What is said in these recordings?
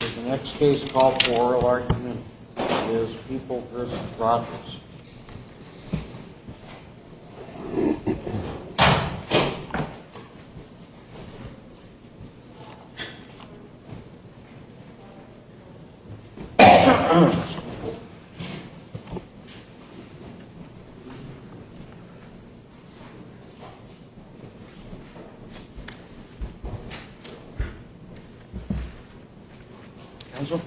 The next case called for oral argument is People v. Rodgers. Counsel?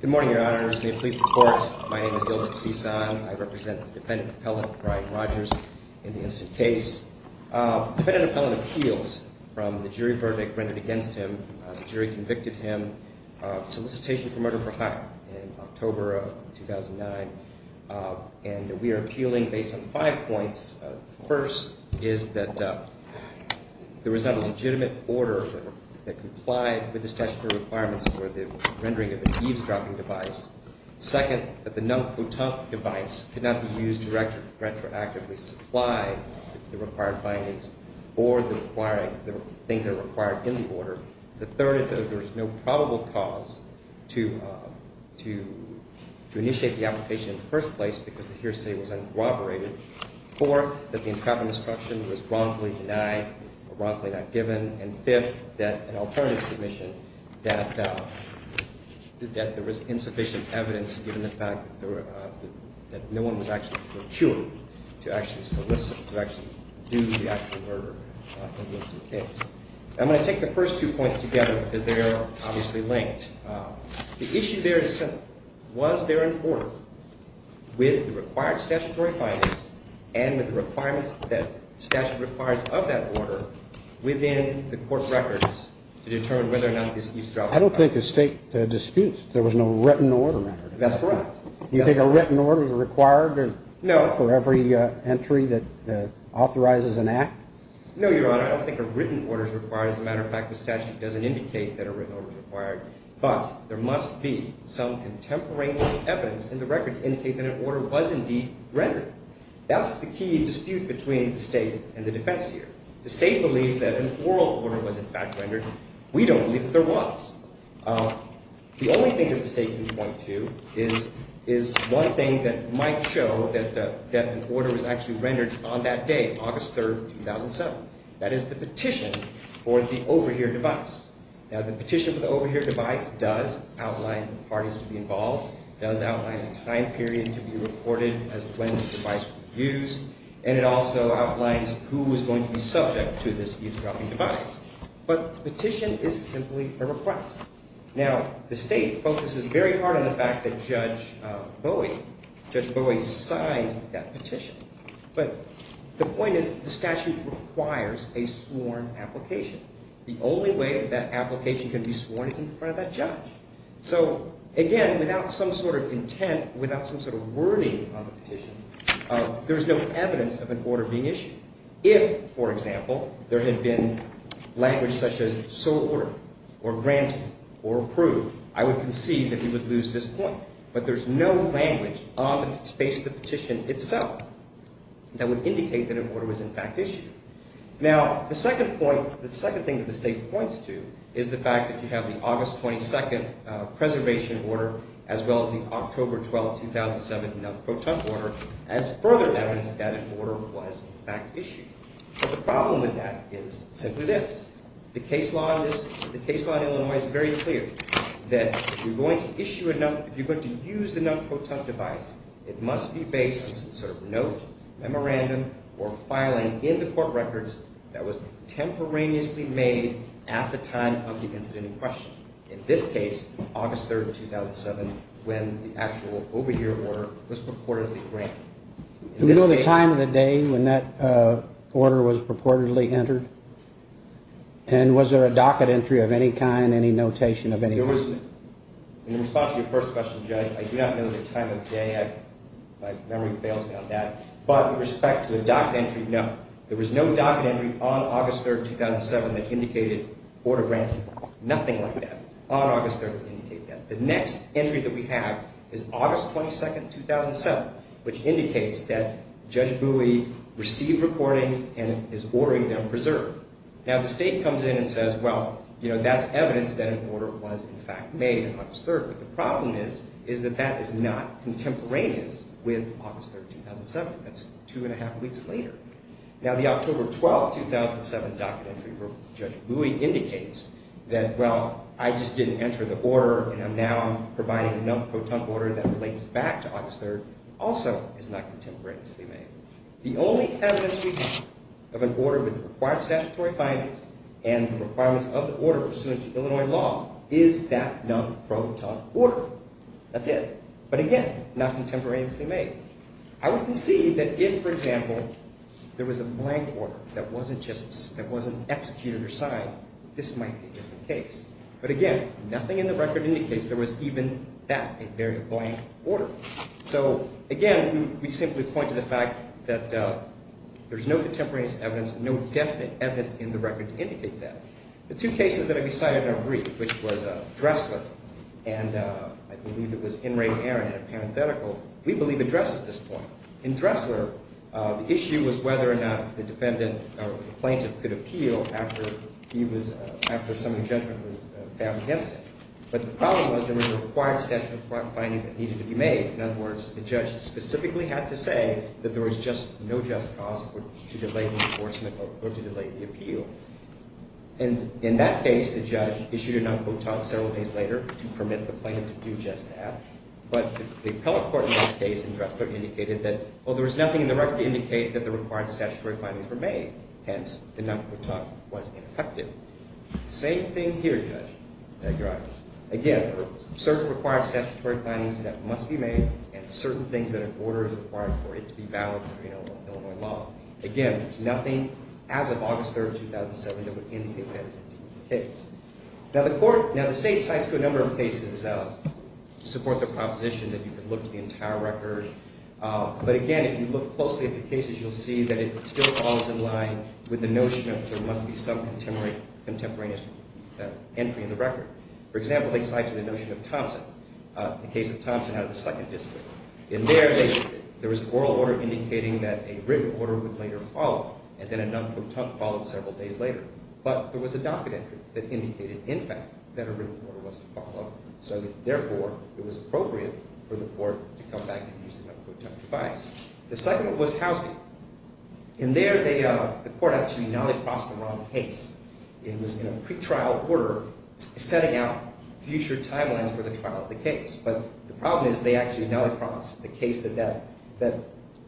Good morning, your honors. May it please the court, my name is Gilbert Cisan. I represent the defendant appellate, Brian Rodgers, in this case. Defendant appellate appeals from the jury verdict rendered against him. The jury convicted him of solicitation for murder for hire in October of 2009. And we are appealing based on five points. The first is that there was not a legitimate order that complied with the statutory requirements for the rendering of an eavesdropping device. Second, that the non-foutan device could not be used to retroactively supply the required findings or the things that are required in the order. The third is that there is no probable cause to initiate the application in the first place because the hearsay was uncooperative. Fourth, that the entrapment instruction was wrongfully denied or wrongfully not given. And fifth, that an alternative submission, that there was insufficient evidence given the fact that no one was actually procured to actually solicit, to actually do the actual murder in this case. I'm going to take the first two points together because they are obviously linked. The issue there is simple. There was no written order that required an eavesdropping device. It was there in court with the required statutory findings and with the requirements that statute requires of that order within the court records to determine whether or not this eavesdropping device could be used. I don't think the state disputes. There was no written order. That's correct. You think a written order is required for every entry that authorizes an act? No, Your Honor, I don't think a written order is required. As a matter of fact, the statute doesn't indicate that a written order is required. But there must be some contemporaneous evidence in the record to indicate that an order was indeed rendered. That's the key dispute between the state and the defense here. The state believes that an oral order was in fact rendered. We don't believe that there was. The only thing that the state can point to is one thing that might show that an order was actually rendered on that day, August 3, 2007. That is the petition for the overhear device. Now, the petition for the overhear device does outline parties to be involved. It does outline a time period to be reported as to when the device was used. And it also outlines who was going to be subject to this eavesdropping device. But the petition is simply a request. Now, the state focuses very hard on the fact that Judge Bowie signed that petition. But the point is the statute requires a sworn application. The only way that application can be sworn is in front of that judge. So, again, without some sort of intent, without some sort of wording on the petition, there is no evidence of an order being issued. If, for example, there had been language such as sole order or granted or approved, I would concede that we would lose this point. But there is no language on the space of the petition itself that would indicate that an order was, in fact, issued. Now, the second point, the second thing that the state points to is the fact that you have the August 22nd preservation order as well as the October 12, 2007 Nell Proton order as further evidence that an order was, in fact, issued. But the problem with that is simply this. The case law in Illinois is very clear that if you're going to use the Nell Proton device, it must be based on some sort of note, memorandum, or filing in the court records that was contemporaneously made at the time of the incident in question. In this case, August 3rd, 2007, when the actual over-year order was purportedly granted. We know the time of the day when that order was purportedly entered. And was there a docket entry of any kind, any notation of any kind? In response to your first question, Judge, I do not know the time of day. My memory fails me on that. But with respect to the docket entry, no. There was no docket entry on August 3rd, 2007 that indicated order granted. Nothing like that on August 3rd indicated that. The next entry that we have is August 22nd, 2007, which indicates that Judge Bowie received recordings and is ordering them preserved. Now, the state comes in and says, well, that's evidence that an order was, in fact, made on August 3rd. But the problem is that that is not contemporaneous with August 3rd, 2007. That's two and a half weeks later. Now, the October 12th, 2007 docket entry where Judge Bowie indicates that, well, I just didn't enter the order and I'm now providing a non-proton order that relates back to August 3rd, also is not contemporaneously made. The only evidence we have of an order with the required statutory findings and the requirements of the order pursuant to Illinois law is that non-proton order. That's it. But, again, not contemporaneously made. I would concede that if, for example, there was a blank order that wasn't executed or signed, this might be a different case. But, again, nothing in the record indicates there was even that, a very blank order. So, again, we simply point to the fact that there's no contemporaneous evidence, no definite evidence in the record to indicate that. The two cases that have been cited are brief, which was Dressler and I believe it was Enright, and it's a parenthetical. We believe it addresses this point. In Dressler, the issue was whether or not the defendant or the plaintiff could appeal after he was, after some of the judgment was found against him. But the problem was there was a required set of findings that needed to be made. In other words, the judge specifically had to say that there was just no just cause to delay the enforcement or to delay the appeal. And in that case, the judge issued a non-quotat several days later to permit the plaintiff to do just that. But the appellate court in that case in Dressler indicated that, well, there was nothing in the record to indicate that the required statutory findings were made. Hence, the non-quotat was ineffective. Same thing here, Judge. Again, certain required statutory findings that must be made, and certain things that an order is required for it to be valid under Illinois law. Again, there's nothing, as of August 3, 2007, that would indicate that it's indeed the case. Now, the court, now the state, cites to a number of cases to support the proposition that you could look to the entire record. But again, if you look closely at the cases, you'll see that it still falls in line with the notion of there must be some contemporaneous entry in the record. For example, they cite to the notion of Thompson, the case of Thompson out of the 2nd District. In there, there was an oral order indicating that a written order would later follow, and then a non-quotat followed several days later. But there was a docket entry that indicated, in fact, that a written order was to follow. So therefore, it was appropriate for the court to come back and use the non-quotat device. The second was Housman. In there, the court actually now had crossed the wrong case. It was in a pretrial order setting out future timelines for the trial of the case. But the problem is they actually now crossed the case that that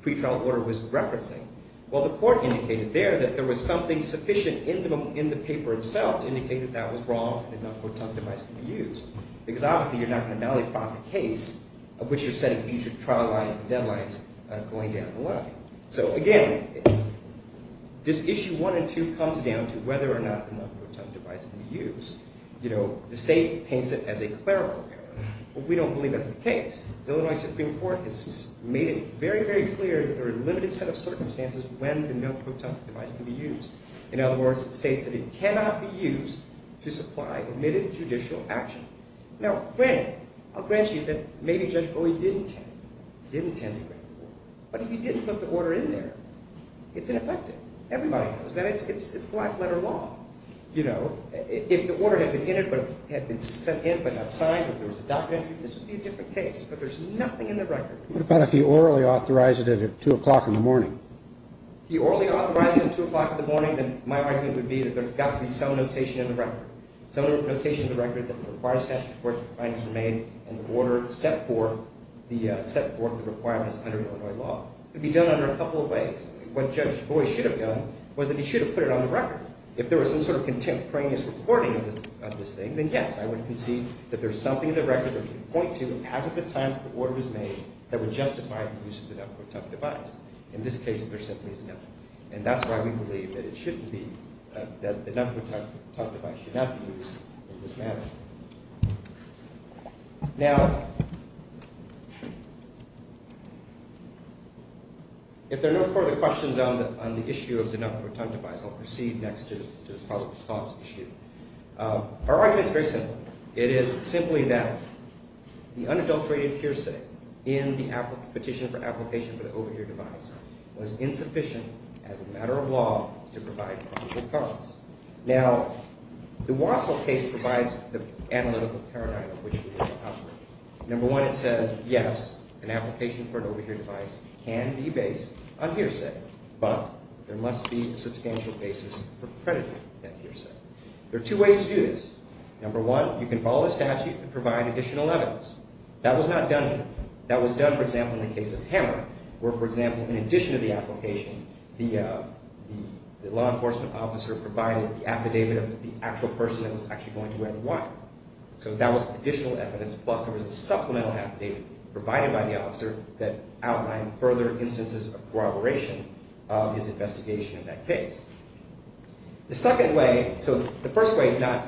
pretrial order was referencing. Well, the court indicated there that there was something sufficient in the paper itself to indicate that that was wrong and the non-quotat device could be used. Because obviously, you're not going to now cross a case of which you're setting future trial lines and deadlines going down the line. So again, this issue 1 and 2 comes down to whether or not the non-quotat device can be used. You know, the state paints it as a clerical error, but we don't believe that's the case. The Illinois Supreme Court has made it very, very clear that there are limited set of circumstances when the non-quotat device can be used. In other words, it states that it cannot be used to supply admitted judicial action. Now, granted, I'll grant you that maybe Judge Bowie didn't intend to grant the court. But if he didn't put the order in there, it's ineffective. Everybody knows that. It's black letter law. You know, if the order had been in it but had been sent in but not signed, if there was a documentary, this would be a different case. But there's nothing in the record. What about if he orally authorized it at 2 o'clock in the morning? If he orally authorized it at 2 o'clock in the morning, then my argument would be that there's got to be some notation in the record. Some notation in the record that requires statutory court findings were made and the order set forth the requirements under Illinois law. It would be done under a couple of ways. What Judge Bowie should have done was that he should have put it on the record. If there was some sort of contemporaneous reporting of this thing, then yes, I would concede that there's something in the record that would point to, as of the time that the order was made, that would justify the use of the non-quotat device. In this case, there simply is nothing. And that's why we believe that the non-quotat device should not be used in this manner. Now, if there are no further questions on the issue of the non-quotat device, I'll proceed next to the probable cause issue. Our argument is very simple. It is simply that the unadulterated hearsay in the petition for application for the overheard device was insufficient as a matter of law to provide probable cause. Now, the Wassil case provides the analytical paradigm of which we need to operate. Number one, it says, yes, an application for an overheard device can be based on hearsay, but there must be a substantial basis for crediting that hearsay. There are two ways to do this. Number one, you can follow the statute and provide additional evidence. That was done, for example, in the case of Hammer, where, for example, in addition to the application, the law enforcement officer provided the affidavit of the actual person that was actually going to wear the watch. So that was additional evidence, plus there was a supplemental affidavit provided by the officer that outlined further instances of corroboration of his investigation in that case. The second way, so the first way is not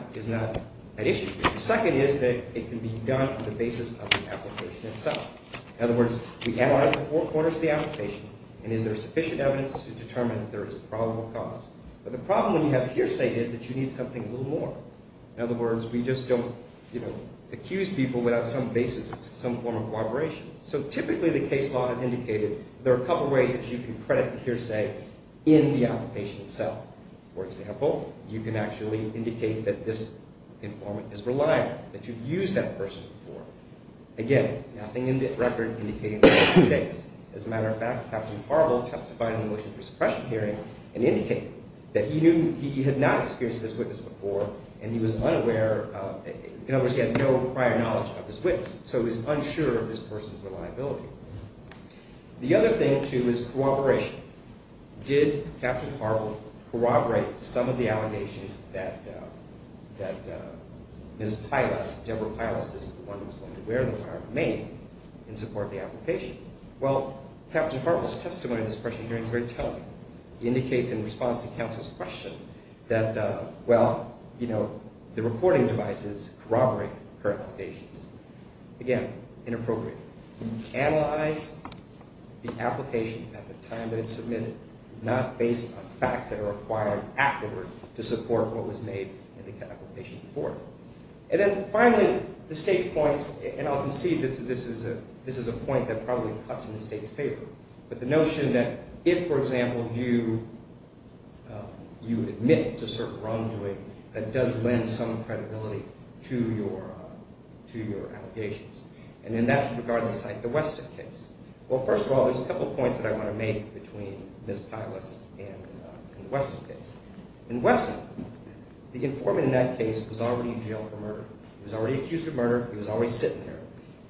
an issue. The second is that it can be done on the basis of the application itself. In other words, we analyze the four corners of the application, and is there sufficient evidence to determine if there is a probable cause? But the problem when you have hearsay is that you need something a little more. In other words, we just don't, you know, accuse people without some basis of some form of corroboration. So typically, the case law has indicated there are a couple ways that you can credit the hearsay in the application itself. For example, you can actually indicate that this informant is reliable, that you've used that person before. Again, nothing in the record indicating this is the case. As a matter of fact, Captain Harville testified in the Motion for Suppression hearing and indicated that he had not experienced this witness before, and he was unaware of, in other words, he had no prior knowledge of this witness. So he was unsure of this person's reliability. The other thing, too, is corroboration. Did Captain Harville corroborate some of the allegations that Ms. Pylas, Deborah Pylas, the one who was going to wear the mask, made in support of the application? Well, Captain Harville's testimony in the suppression hearing is very telling. He indicates in response to counsel's question that, well, you know, the recording device is corroborating her allegations. Again, inappropriate. Analyze the application at the time that it's submitted, not based on facts that are acquired afterward to support what was made in the application before. And then finally, the state points, and I'll concede that this is a point that probably cuts in the state's favor, but the notion that if, for example, you admit to certain wrongdoing, that does lend some credibility to your allegations. And in that regard, let's cite the Weston case. Well, first of all, there's a couple points that I want to make between Ms. Pylas and the Weston case. In Weston, the informant in that case was already in jail for murder. He was already accused of murder. He was already sitting there.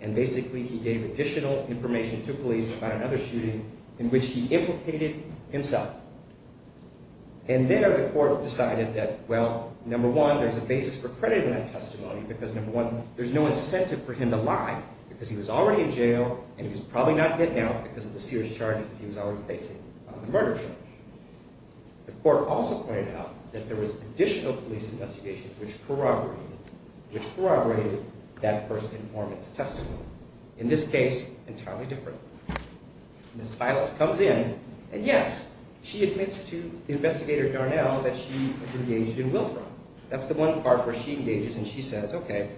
And basically, he gave additional information to police about another shooting in which he implicated himself. And there, the court decided that, well, number one, there's a basis for crediting that testimony because, number one, there's no incentive for him to lie because he was already in jail and he was probably not getting out because of the serious charges that he was already facing on the murder charge. The court also pointed out that there was additional police investigation which corroborated that first informant's testimony. In this case, entirely different. Ms. Pylas comes in, and yes, she admits to the investigator Darnell that she was engaged in willfram. That's the one part where she engages and she says, okay,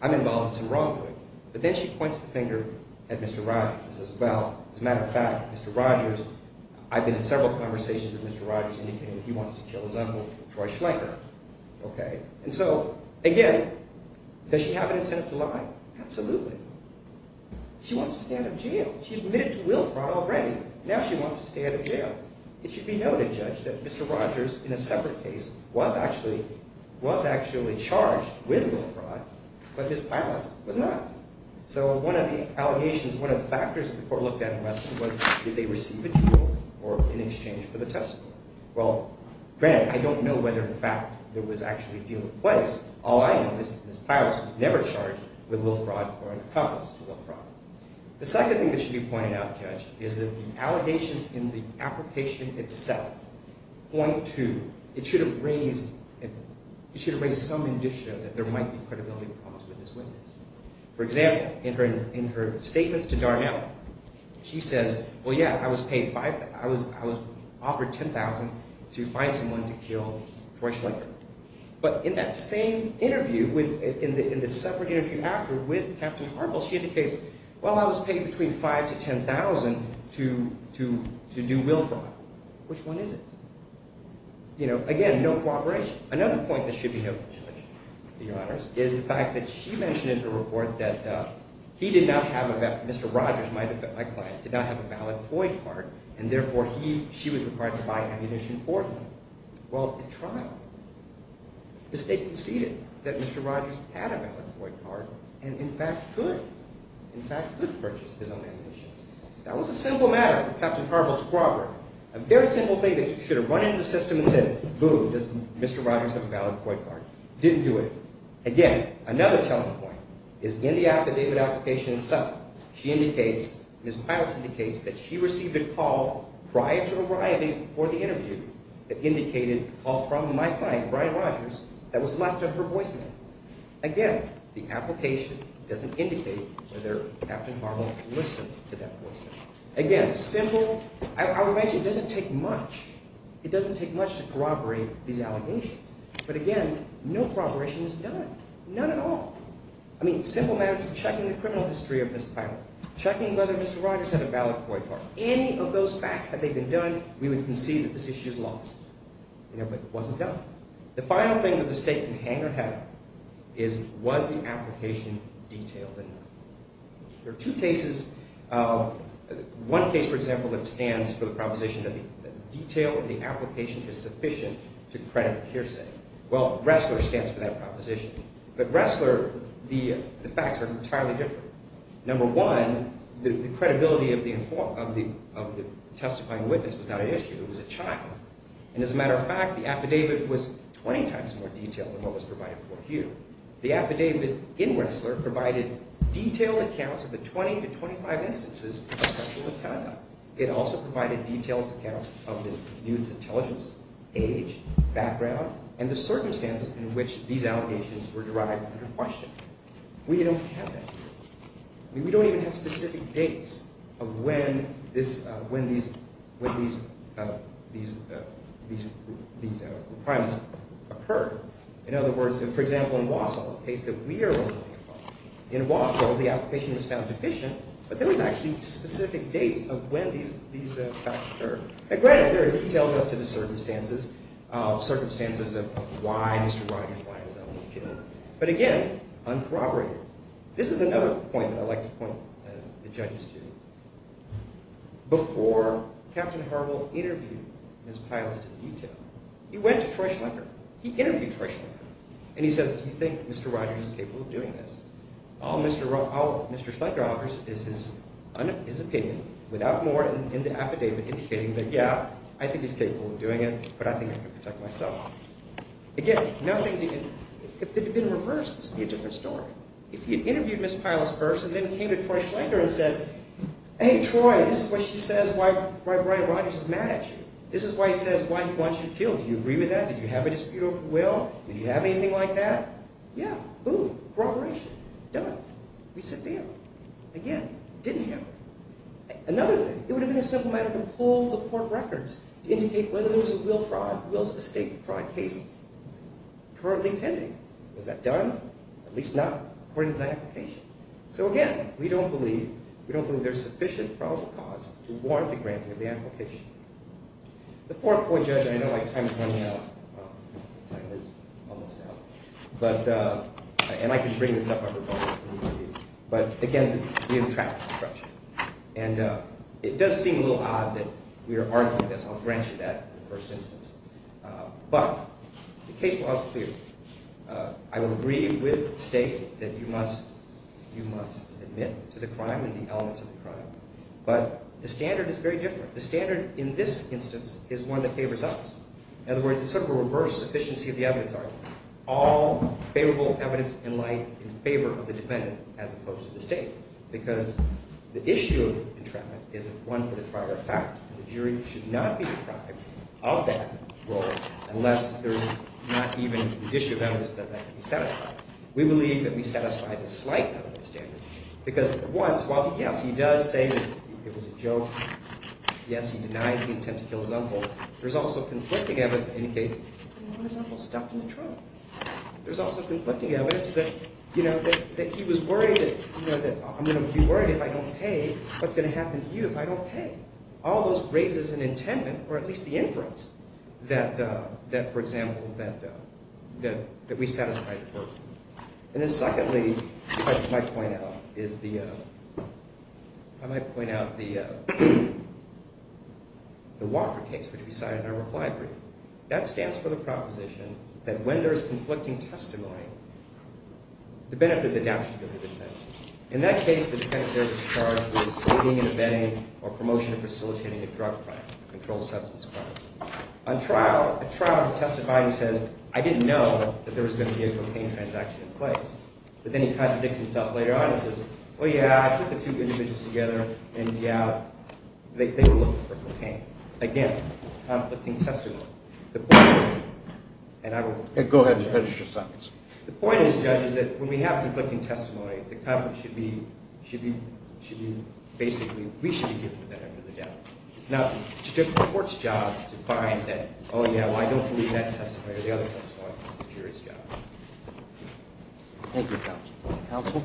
I'm involved in some wrongdoing. But then she points the finger at Mr. Rogers and says, well, as a matter of fact, Mr. Rogers, I've been in several conversations with Mr. Rogers indicating that he wants to kill his uncle, Troy Schlenker. And so, again, does she have an incentive to lie? Absolutely. She wants to stay out of jail. She admitted to willfram already. Now she wants to stay out of jail. It should be noted, Judge, that Mr. Rogers, in a separate case, was actually charged with willfram, but Ms. Pylas was not. So one of the allegations, one of the factors that the court looked at in Wesson was did they receive a deal or in exchange for the testimony? Well, granted, I don't know whether, in fact, there was actually a deal in place. All I know is Ms. Pylas was never charged with willfram or an accomplice to willfram. The second thing that should be pointed out, Judge, is that the allegations in the application itself point to, it should have raised, it should have raised some indicative that there might be credibility problems with this witness. For example, in her statements to Darnell, she says, well, yeah, I was paid, I was offered $10,000 to find someone to kill Troy Schlenker. But in that same interview, in the separate interview after with Captain Harpel, she indicates, well, I was paid between $5,000 to $10,000 to do willfram. Which one is it? You know, again, no cooperation. Another point that should be noted, Judge, Your Honors, is the fact that she mentioned in her report that he did not have, Mr. Rogers, my client, did not have a valid FOIA card, and therefore he, she was required to buy ammunition for him. Well, at trial, the state conceded that Mr. Rogers had a valid FOIA card and, in fact, could purchase his own ammunition. That was a simple matter for Captain Harpel to corroborate. A very simple thing that should have run into the system and said, boom, Mr. Rogers has a valid FOIA card. Didn't do it. Again, another telling point is in the affidavit application itself. She indicates, Ms. Pilots indicates that she received a call prior to arriving for the interview that indicated a call from my client, Brian Rogers, that was left of her voicemail. Again, the application doesn't indicate whether Captain Harpel listened to that voicemail. Again, simple. I would imagine it doesn't take much. It doesn't take much to corroborate these allegations. But again, no corroboration was done. None at all. I mean, simple matters of checking the criminal history of Ms. Pilots, checking whether Mr. Rogers had a valid FOIA card. Any of those facts, had they been done, we would concede that this issue is lost. You know, but it wasn't done. The final thing that the State can hang her head on is, was the application detailed enough? There are two cases. One case, for example, that stands for the proposition that the detail of the application is sufficient to credit a hearsay. Well, Ressler stands for that proposition. But Ressler, the facts are entirely different. Number one, the credibility of the testifying witness was not an issue. It was a child. And as a matter of fact, the affidavit was 20 times more detailed than what was provided for Hugh. The affidavit in Ressler provided detailed accounts of the 20 to 25 instances of sexual misconduct. It also provided detailed accounts of the youth's intelligence, age, background, and the circumstances in which these allegations were derived under question. We don't have that here. I mean, we don't even have specific dates of when these requirements occurred. In other words, for example, in Wausau, a case that we are working on, in Wausau, the application was found deficient, but there was actually specific dates of when these facts occurred. Now granted, there are details as to the circumstances of why Mr. Rogers, why his own opinion, but again, uncorroborated. This is another point that I'd like to point the judges to. Before Captain Harwell interviewed his pilots to detail, he went to Troy Schlenker. He interviewed Troy Schlenker, and he says, do you think Mr. Rogers is capable of doing this? All Mr. Schlenker offers is his opinion without more in the affidavit indicating that, yeah, I think he's capable of doing it, but I think I can protect myself. Again, nothing, if it had been reversed, this would be a different story. If he had interviewed Ms. Piles first and then came to Troy Schlenker and said, hey, Troy, this is what she says why Brian Rogers is mad at you. This is why he says why he wants you killed. Do you agree with that? Did you have a dispute over the will? Did you have anything like that? Yeah, boom, corroboration, done. We sit down. Again, didn't happen. Another thing, it would have been a simple matter to pull the court records to indicate whether there was a will fraud, will estate fraud case currently pending. Was that done? At least not according to the application. So again, we don't believe there's sufficient probable cause to warrant the granting of the application. The fourth point, Judge, and I know my time is running out. Well, my time is almost out. And I can bring this up on rebuttal if we need to. But again, we have a traffic construction. And it does seem a little odd that we are arguing this. I'll grant you that in the first instance. But the case law is clear. I will agree with the state that you must admit to the crime and the elements of the crime. But the standard is very different. The standard in this instance is one that favors us. In other words, it's sort of a reverse sufficiency of the evidence argument. All favorable evidence in light in favor of the defendant as opposed to the state. Because the issue of entrapment isn't one for the trial or fact. The jury should not be deprived of that role unless there's not even the issue of evidence that that can be satisfied. We believe that we satisfy the slight out of the standard. Because at once, while yes, he does say that it was a joke. Yes, he denied the intent to kill Zumbel. There's also conflicting evidence that in any case, Zumbel was stuck in the trunk. There's also conflicting evidence that he was worried that I'm going to be worried if I don't pay. What's going to happen to you if I don't pay? All those raises an intent or at least the inference that, for example, that we satisfy the court. And then secondly, if I might point out, is the Walker case, which we cited in our reply brief. That stands for the proposition that when there is conflicting testimony, the benefit of the doubt should go to the defendant. In that case, the defendant is charged with a trial testifying who says, I didn't know that there was going to be a cocaine transaction in place. But then he contradicts himself later on and says, well, yeah, I think the two individuals together in the out, they were looking for cocaine. Again, conflicting testimony. The point is, and I will... Go ahead. The point is, Judge, is that when we have conflicting testimony, the conflict should be that, oh, yeah, well, I don't believe that testimony or the other testimony. Thank you, counsel. Thank you, counsel.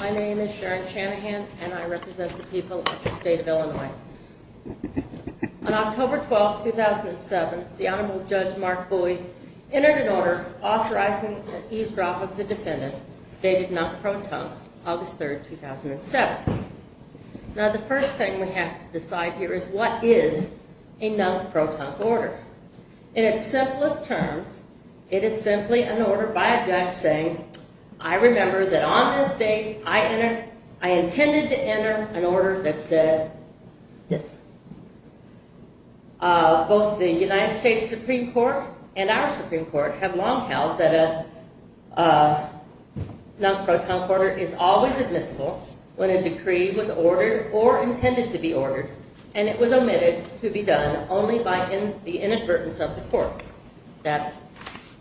My name is Sharon Shanahan, and I represent the New York District Court of Appeals, and I'm here to talk to you about the non-protonc order dated August 3rd, 2007. Now, the first thing we have to decide here is what is a non-protonc order. In its simplest terms, it is simply an order by a judge saying, I remember that on this date, I intended to enter an order that said this. Both the United States Supreme Court and our Supreme Court have long held that a non-protonc order is always admissible when a decree was ordered or intended to be ordered, and it was omitted to be done only by the inadvertence of the court. That's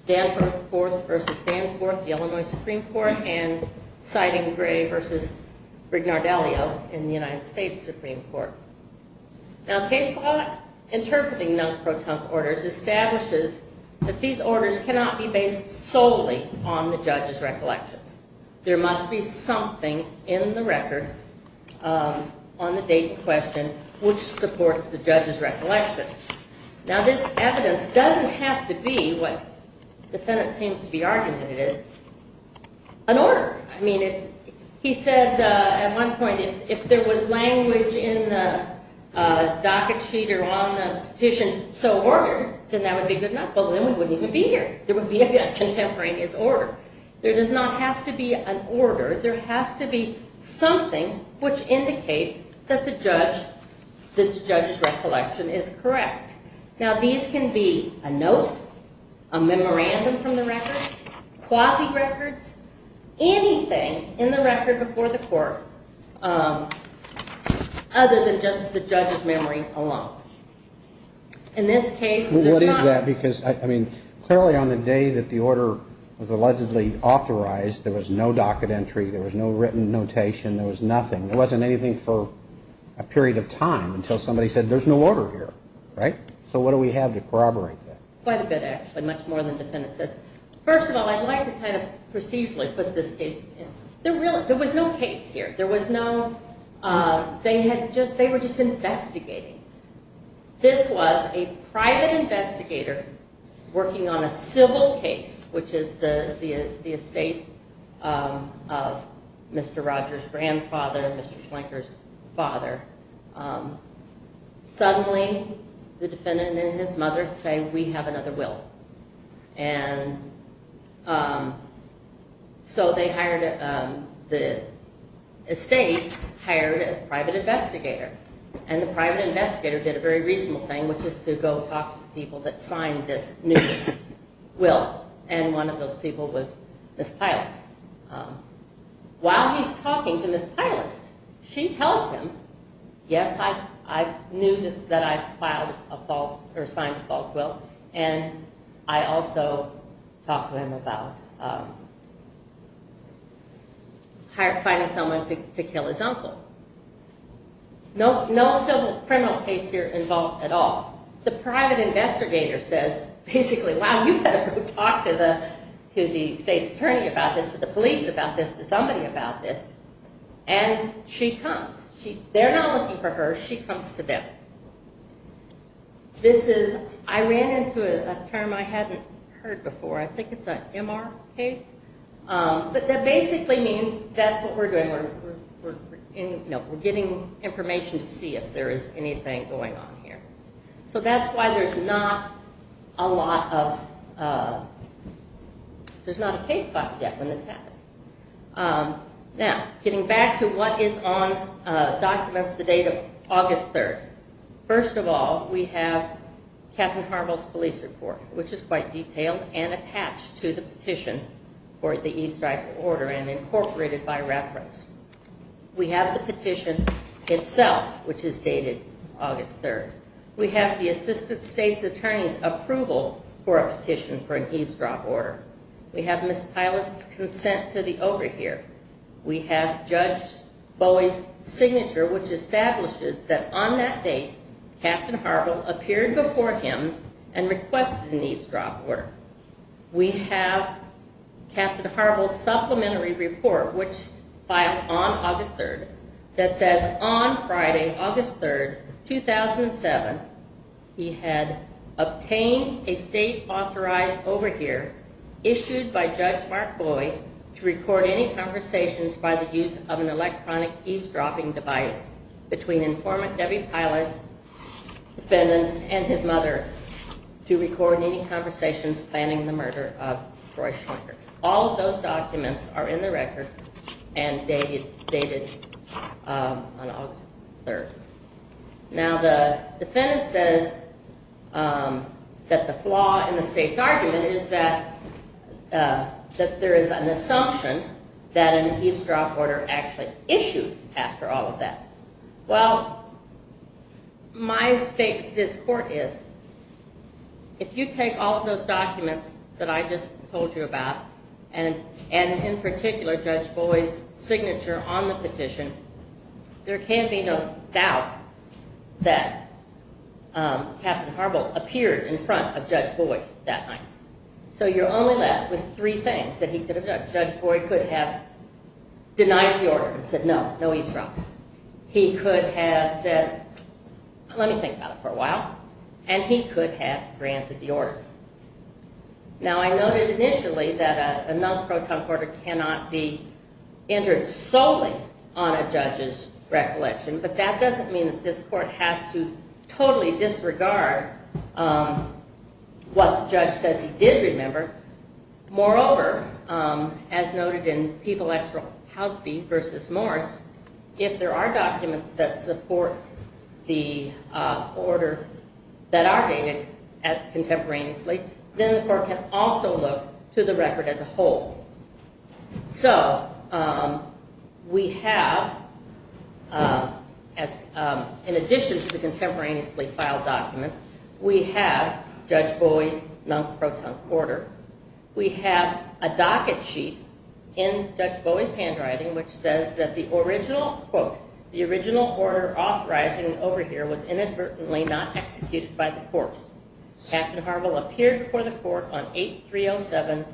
Danforth v. Danforth, the Illinois Supreme Court, and Siding Gray v. Brignardellio in the United States Supreme Court. Now, case law interpreting non-protonc orders establishes that these orders cannot be based solely on the judge's recollections. There must be something in the record on the date in question which supports the judge's recollection. Now, this evidence doesn't have to be, what the defendant seems to be arguing that it is, an order. I mean, he said at one point, if there was language in the docket sheet or on the petition so ordered, then that would be good enough, but then we wouldn't even be here. There would be a contemporaneous order. There does not have to be an order. There has to be something which indicates that the judge's recollection is correct. Now, these can be a note, a memorandum from the record, quasi-records, anything in the record before the court other than just the judge's memory alone. In this case, there's not. What is that? Because, I mean, clearly on the day that the order was allegedly authorized, there was no docket entry, there was no written notation, there was nothing. There wasn't anything for a period of time until somebody said there's no order here, right? So what do we have to corroborate that? Quite a bit, actually, much more than the defendant says. First of all, I'd like to kind of procedurally put this case in. There was no case here. There was no, they were just investigating. This was a private investigator working on a civil case, which is the estate of Mr. Rogers' grandfather and Mr. Schlenker's father. Suddenly, the defendant and his mother say, we have another will. So the estate hired a private investigator, and the private investigator did a very reasonable thing, which is to go talk to people that signed this new will, and one of those people was Ms. Pylist. While he's talking to Ms. Pylist, she tells him, yes, I knew that I filed a false, or signed a false will, and I also talked to him about finding someone to kill his uncle. No civil criminal case here involved at all. The private investigator says, basically, wow, you better go talk to the state's attorney about this, to the police about this, to somebody about this, and she comes. They're not looking for her. She comes to them. I ran into a term I hadn't heard before. I think it's an MR case, but that basically means that's what we're doing. We're getting information to see if there is anything going on here. So that's why there's not a lot of, there's not a case file yet when this happened. Now, getting back to what is on documents the date of August 3rd. First of all, we have Captain Harville's police report, which is quite detailed and attached to the petition for the eavesdrop order and incorporated by reference. We have the petition itself, which is dated August 3rd. We have the assistant state's attorney's approval for a petition for an eavesdrop order. We have Ms. Pylist's consent to the order here. We have Judge Bowie's consent that appeared before him and requested an eavesdrop order. We have Captain Harville's supplementary report, which filed on August 3rd, that says on Friday, August 3rd, 2007, he had obtained a state-authorized overhear issued by Judge Mark Bowie to record any conversations by the use of an electronic eavesdropping device between informant Debbie Pylist's defendant and his mother to record any conversations planning the murder of Roy Schwenker. All of those documents are in the record and dated on August 3rd. Now, the defendant says that the flaw in the state's argument is that there is an assumption that an eavesdrop order actually issued after all of that. Well, my stake in this court is, if you take all of those documents that I just told you about and in particular Judge Bowie's signature on the petition, there can be no doubt that Captain Harville appeared in front of Judge Bowie that night. So you're only left with three things that he could have done. Judge Bowie could have denied the order and said, no, no eavesdropping. He could have said, let me think about it for a while, and he could have granted the order. Now, I noted initially that a non-proton quarter cannot be entered solely on a judge's record, and I certainly disregard what the judge says he did remember. Moreover, as noted in People X. Housby v. Morris, if there are documents that support the order that are dated contemporaneously, then the court can also look to the record as a whole. So we have, in addition to the contemporaneously filed documents, we have Judge Bowie's non-proton quarter. We have a docket sheet in Judge Bowie's handwriting which says that the original, quote, the original order authorizing over here was inadvertently not executed by the court. Captain Harville appeared before the court on 8-307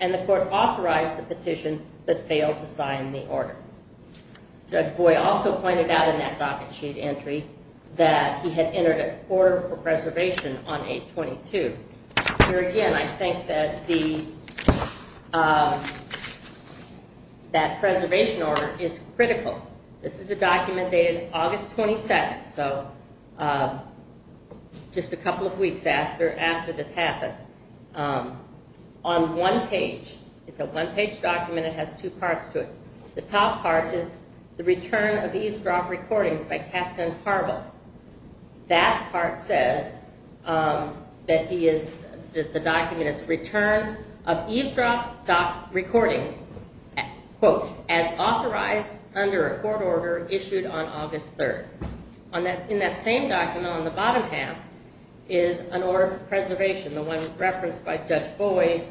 and the court authorized the petition but failed to sign the order. Judge Bowie also pointed out in that docket sheet entry that he had entered a quarter for preservation on 8-22. Here again, I think that the, that preservation order is critical. This is a document dated August 27th, so just a couple of weeks after this happened. On one page, it's a one page document, it has two parts to it. The top part is the return of eavesdrop recordings by Captain Harville. That part says that he is, that the document is return of eavesdrop recordings, quote, as I recommend. The bottom half is an order for preservation, the one referenced by Judge Bowie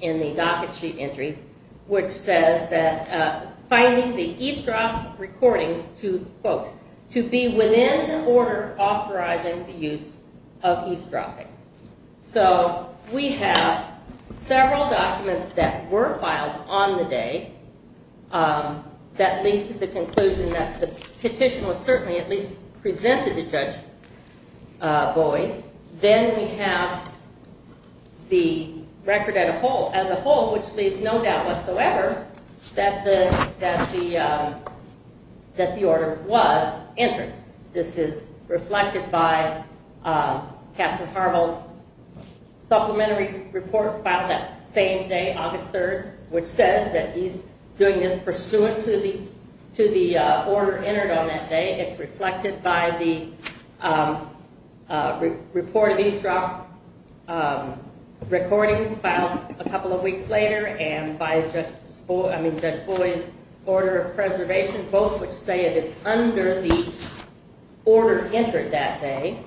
in the docket sheet entry, which says that finding the eavesdrop recordings to, quote, to be within the order authorizing the use of eavesdropping. We have several documents that were filed on the day that lead to the conclusion that the petition was certainly at least presented to Judge Bowie. Then we have the record as a whole, which leaves no doubt whatsoever that the order was entered. This is reflected by Captain Harville's complimentary report filed that same day, August 3rd, which says that he's doing this pursuant to the order entered on that day. It's reflected by the report of eavesdrop recordings filed a couple of weeks later and by Judge Bowie's order of preservation, both which say it is under the order authorizing eavesdropping.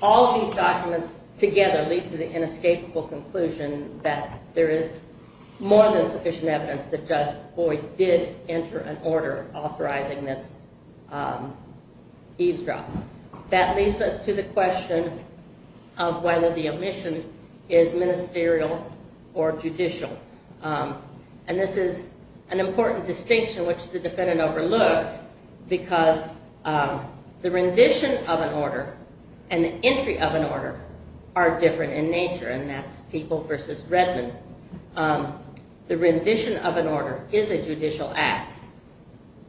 All of these documents together lead to the inescapable conclusion that there is more than sufficient evidence that Judge Bowie did enter an order authorizing this eavesdropping. That leads us to the question of whether the omission is ministerial or judicial. This is an important distinction which the defendant overlooks because the rendition of an order and the entry of an order are different in nature, and that's People v. Redmond. The rendition of an order is a judicial act,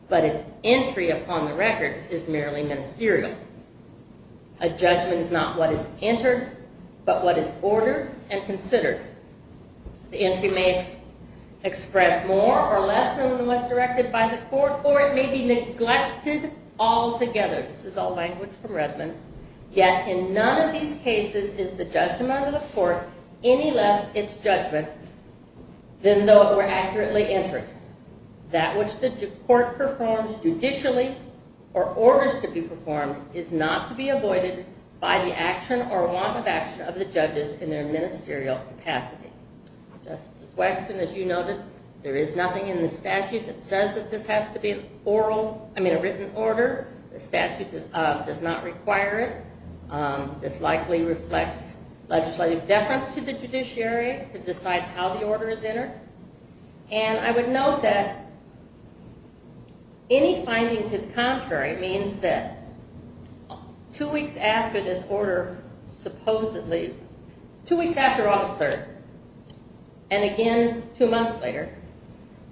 but its entry upon the record is merely ministerial. A judgment is not what is entered, but what is ordered and considered. The entry may express more or less than what's directed by the court, or it may be neglected altogether. This is all language from Redmond. Yet in none of these cases is the judgment of the court any less its judgment than though it were accurately entered. That which the court performs judicially or orders to be performed is not to be avoided by the action or want of action of the judges in their ministerial capacity. Justice Waxman, as you noted, there is nothing in the statute that says that this has to be a written order. The statute does not require it. This likely reflects legislative deference to the judiciary to decide how the case is handled. Any finding to the contrary means that two weeks after this order supposedly, two weeks after August 3rd, and again two months later,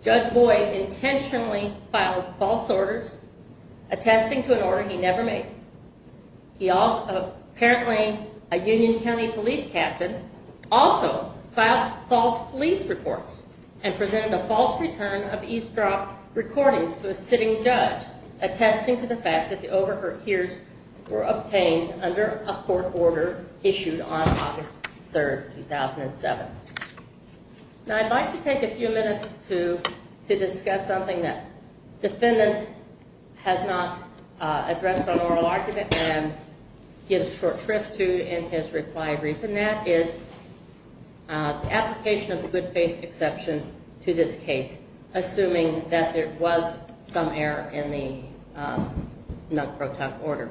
Judge Boyd intentionally filed false orders attesting to an order he never made. Apparently a Union County police captain also filed false police reports and presented a false return of eavesdrop recordings to a sitting judge attesting to the fact that the overhears were obtained under a court order issued on August 3rd, 2007. Now I'd like to take a few minutes to discuss something that defendant has not addressed on oral argument and gives short shrift to in his reply brief, and that is application of the good faith exception to this case, assuming that there was some error in the non-proton order.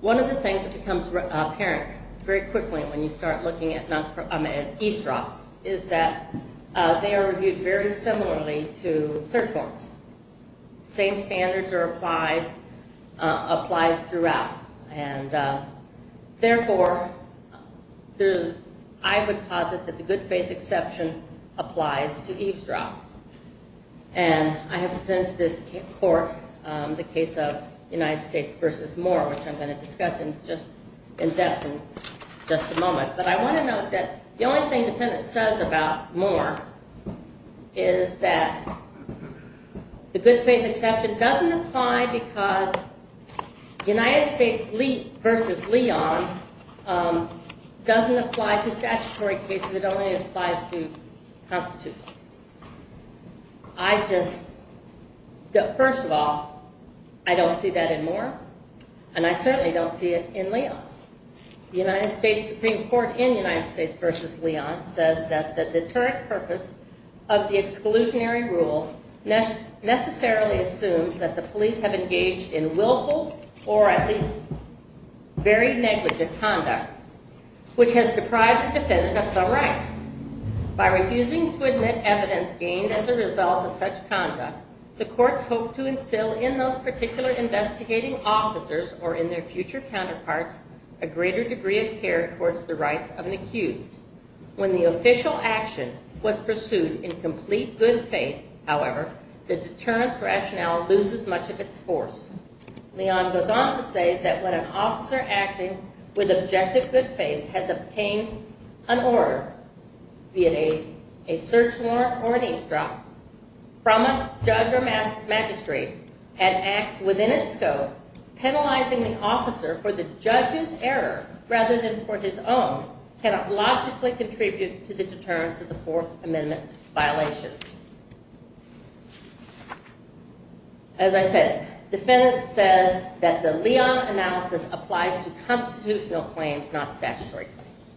One of the things that becomes apparent very quickly when you start looking at eavesdrops is that they are reviewed very similarly to search warrants. Same standards are applied throughout, and therefore I would posit that the good faith exception applies to eavesdrop. And I have presented this court, the case of United States versus Moore, which I'm going to discuss in depth in just a moment, but I want to note that the only thing the defendant says about Moore is that the good faith exception doesn't apply because United States versus Leon doesn't apply to statutory cases, it only applies to constitutional cases. First of all, I don't see that in Moore, and I certainly don't see it in Leon, that the deterrent purpose of the exclusionary rule necessarily assumes that the police have engaged in willful or at least very negligent conduct, which has deprived the defendant of some right. By refusing to admit evidence gained as a result of such conduct, the courts hope to instill in those particular investigating officers or in their future counterparts a greater degree of care towards the rights of an accused. When the official action was pursued in complete good faith, however, the deterrence rationale loses much of its force. Leon goes on to say that when an officer acting with objective good faith has obtained an order via a search warrant or an eavesdrop from a judge or the judge's error rather than for his own cannot logically contribute to the deterrence of the Fourth Amendment violations. As I said, the defendant says that the Leon analysis applies to constitutional claims, not statutory claims.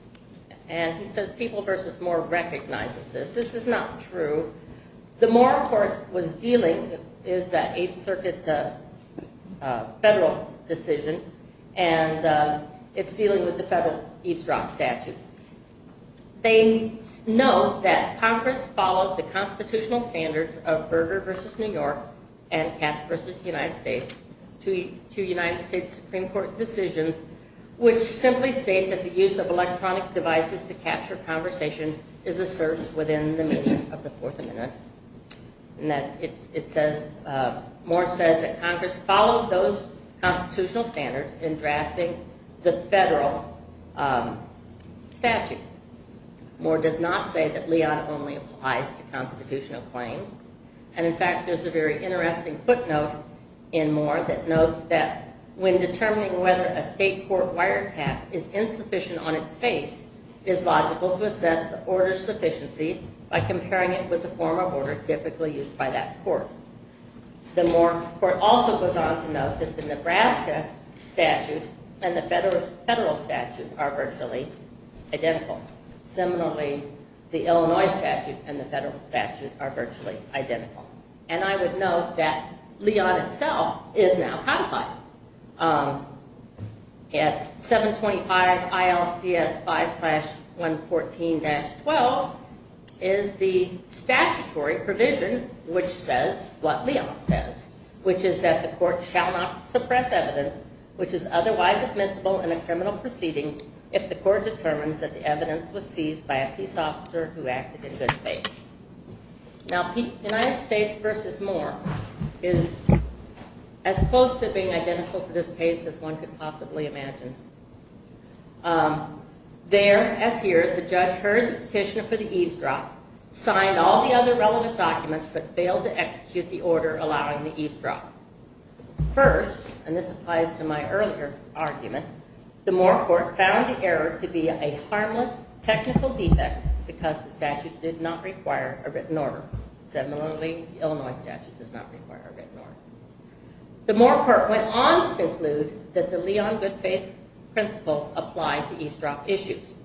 And he says people versus Moore recognizes this. This is not true. The Moore court was dealing with the Eighth Circuit federal decision and it's dealing with the federal eavesdrop statute. They know that Congress followed the constitutional standards of Berger versus New York and Katz versus United States to United States Supreme Court decisions, which simply state that the use of electronic devices to capture conversation is served within the meaning of the Fourth Amendment. And that it says, Moore says that Congress followed those constitutional standards in drafting the federal statute. Moore does not say that Leon only applies to constitutional claims. And in fact, there's a very interesting footnote in Moore that notes that when determining whether a state court requires a cap is insufficient on its face, it's logical to assess the order's sufficiency by comparing it with the form of order typically used by that court. The Moore court also goes on to note that the Nebraska statute and the federal statute are virtually identical. Similarly, the Illinois statute and the federal statute are virtually identical. And I would note that 725 ILCS 5 slash 114 dash 12 is the statutory provision which says what Leon says, which is that the court shall not suppress evidence which is otherwise admissible in a criminal proceeding if the court determines that the evidence was seized by a peace officer who acted in good faith. Now, United States versus Moore is as close to being identical to this case as one could possibly imagine. There, as here, the judge heard the petitioner for the eavesdrop, signed all the other relevant documents, but failed to execute the order allowing the eavesdrop. First, and this applies to my earlier argument, the Moore court found the error to be a harmless technical defect because the statute did not require a written order. Similarly, the Illinois statute does not require a written order. The Moore court went on to conclude that the Leon good faith principles apply to eavesdrop issues.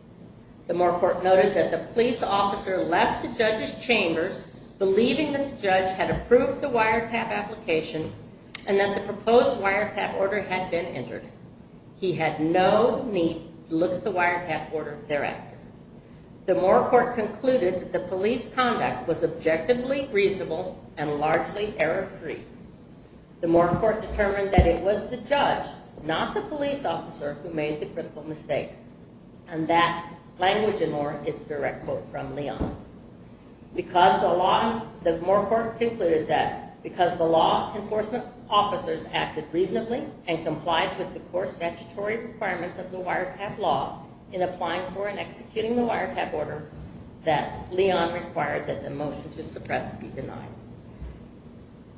The Moore court noted that the police officer left the judge's chambers believing that the judge had approved the wiretap application and that the proposed wiretap order had been entered. He had no need to look at the wiretap order thereafter. The Moore court concluded that the police conduct was objectively reasonable and largely error free. The Moore court determined that it was the judge, not the police officer, who made the critical mistake. And that language in Moore is a direct quote from Leon. Because the law, the Moore court concluded that because the law enforcement officers acted reasonably and complied with the core statutory requirements of the wiretap law in applying for and executing the wiretap order that Leon required that the motion to suppress be denied.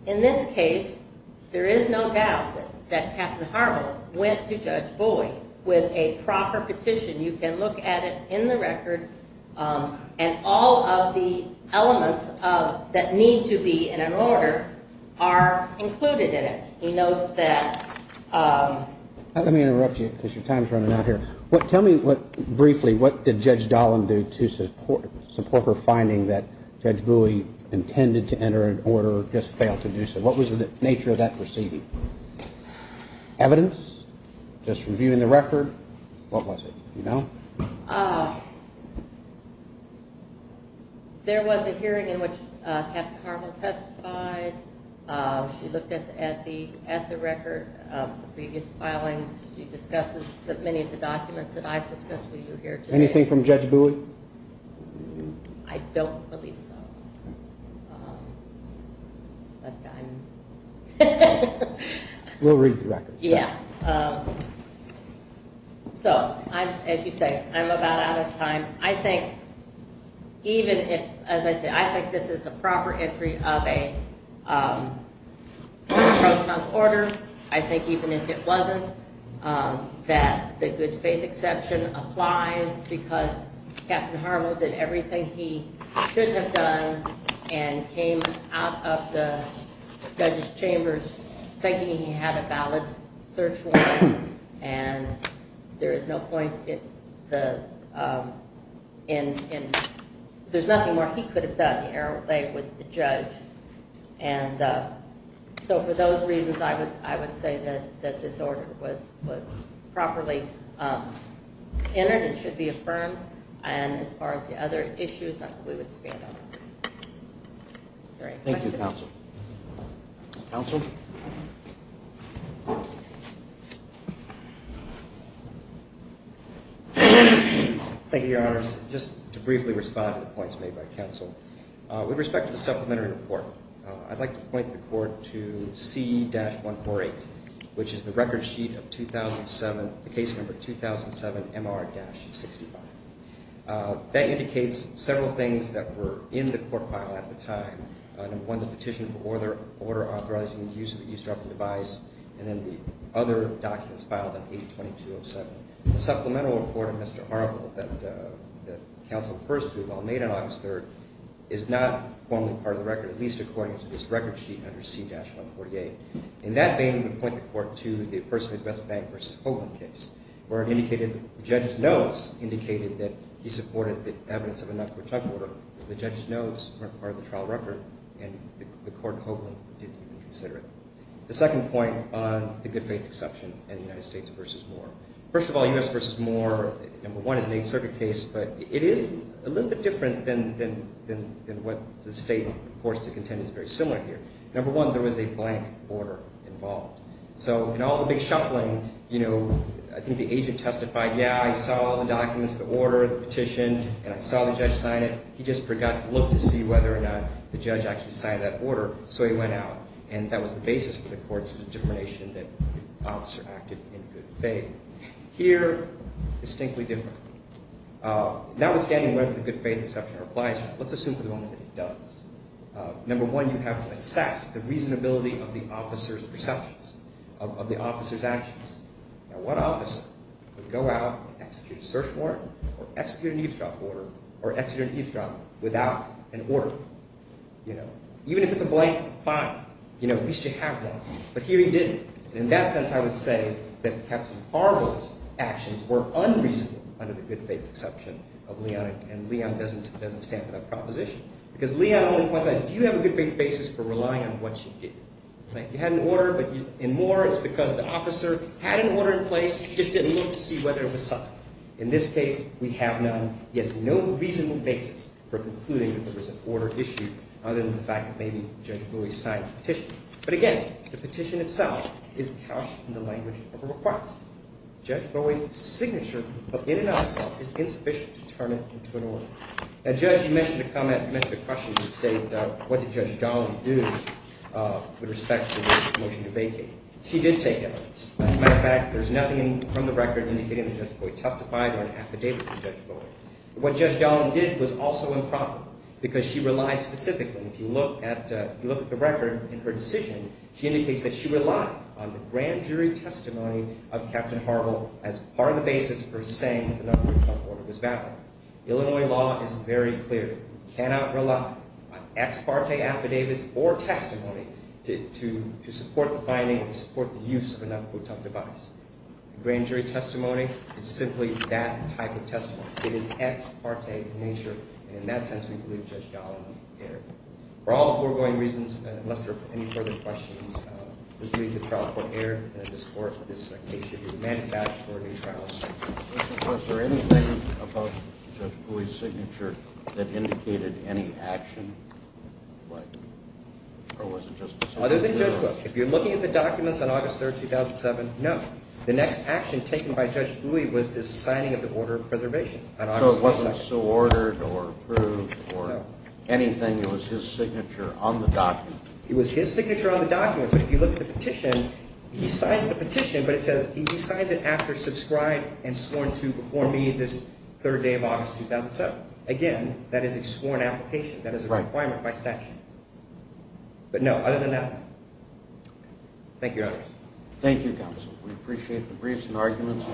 In this case, there is no doubt that Captain Harville went to Judge Boyd with a proper petition. You can look at it in the record and all of the he notes that. Let me interrupt you because your time is running out here. Tell me briefly what did Judge Dolan do to support her finding that Judge Bowie intended to enter an order, just failed to do so. What was the nature of that proceeding? Evidence? Just reviewing the record? What was it? Do you know? There was a hearing in which Captain Harville testified. She looked at the record of the previous filings. She discusses many of the documents that I've discussed with you here today. Anything from Judge Bowie? I don't believe so. We'll read the record. As you say, I'm about out of time. I think even if, as I said, I think this is a proper entry of a pro-trump order. I think even if it wasn't, that the good faith exception applies because Captain Harville did everything he should have done and came out of the judge's chambers thinking he had a valid search warrant. And there is no point in there's nothing more he could have done. He erred away with the judge. And so for those reasons, I would say that this order was properly entered and should be affirmed. Thank you, counsel. Counsel? Thank you, Your Honors. Just to briefly respond to the points made by counsel. With respect to the supplementary report, I'd like to point the court to C-148, which is the record sheet of C-148. That indicates several things that were in the court file at the time. Number one, the petition for order authorizing the use of the eavesdropping device. And then the other documents filed on 8-22-07. The supplemental report of Mr. Harville that counsel first drew while made on August 3rd is not formally part of the record, at least according to this record sheet under C-148. In that vein, we point the court to the first of his West Bank v. Hoagland case, where it indicated the judge's notes indicated that he supported the evidence of a non-court trial order. The judge's notes weren't part of the trial record and the court of Hoagland didn't even consider it. The second point on the good faith exception in the United States v. Moore. First of all, U.S. v. Moore, number one, is an Eighth Circuit case, but it is a little bit different than what the state reports to the court. It's a little bit different in that it's not a bank order involved. So in all the big shuffling, you know, I think the agent testified, yeah, I saw all the documents, the order, the petition, and I saw the judge sign it. He just forgot to look to see whether or not the judge actually signed that order, so he went out. And that was the basis for the court's determination that the officer acted in good faith. Here, distinctly different. Notwithstanding whether the good faith exception applies or not, let's assume for the moment that it does. Number one, you have to assess the reasonability of the officer's perceptions, of the officer's actions. Now, what officer would go out and execute a search warrant or execute an eavesdrop order or execute an eavesdrop without an order? You know, even if it's a blank, fine. You know, at least you have one. But here he didn't. And in that sense, I would say that Captain Harbaugh's actions were unreasonable under the good faith exception of Leon, and Leon doesn't stand for that proposition. Because Leon only points out, do you have a good basis for relying on what you did? You had an order, but in Moore, it's because the officer had an order in place, just didn't look to see whether it was signed. In this case, we have none. He has no reasonable basis for concluding that there was an order issued, other than the fact that maybe Judge Bowie signed the petition. But again, the petition itself is couched in the language of a request. Judge Bowie's signature in and of itself is insufficient to turn it into an order. Now, Judge, you mentioned a comment, you mentioned a question that stated what did Judge Donnelly do with respect to this motion to vacate. She did take evidence. As a matter of fact, there's nothing from the record indicating that Judge Bowie testified or an affidavit from Judge Bowie. What Judge Donnelly did was also improper, because she relied specifically, if you look at the record in her decision, she indicates that she relied on the grand jury testimony of Captain Harbaugh as part of the basis for saying that the non-quotient order was valid. Illinois law is very clear. You cannot rely on ex parte affidavits or testimony to support the finding or to support the use of a non-quotient device. Grand jury testimony is simply that type of testimony. It is ex parte in nature, and in that sense we believe Judge Donnelly erred. For all the foregoing reasons, unless there are any further questions, this would be the trial court error in this case. It should be a manufactured trial. Was there anything about Judge Bowie's signature that indicated any action? Other than Judge Wilk. If you're looking at the documents on August 3rd, 2007, no. The next action taken by Judge Bowie was his signing of the order of preservation on August 22nd. So it wasn't so ordered or approved or anything. It was his signature on the documents. It was his signature on the documents, but if you look at the petition, he signs the petition, but it says he signs it after subscribed and sworn to before this third day of August 2007. Again, that is a sworn application. That is a requirement by statute. But no, other than that, thank you. Thank you, counsel. We appreciate the briefs and arguments.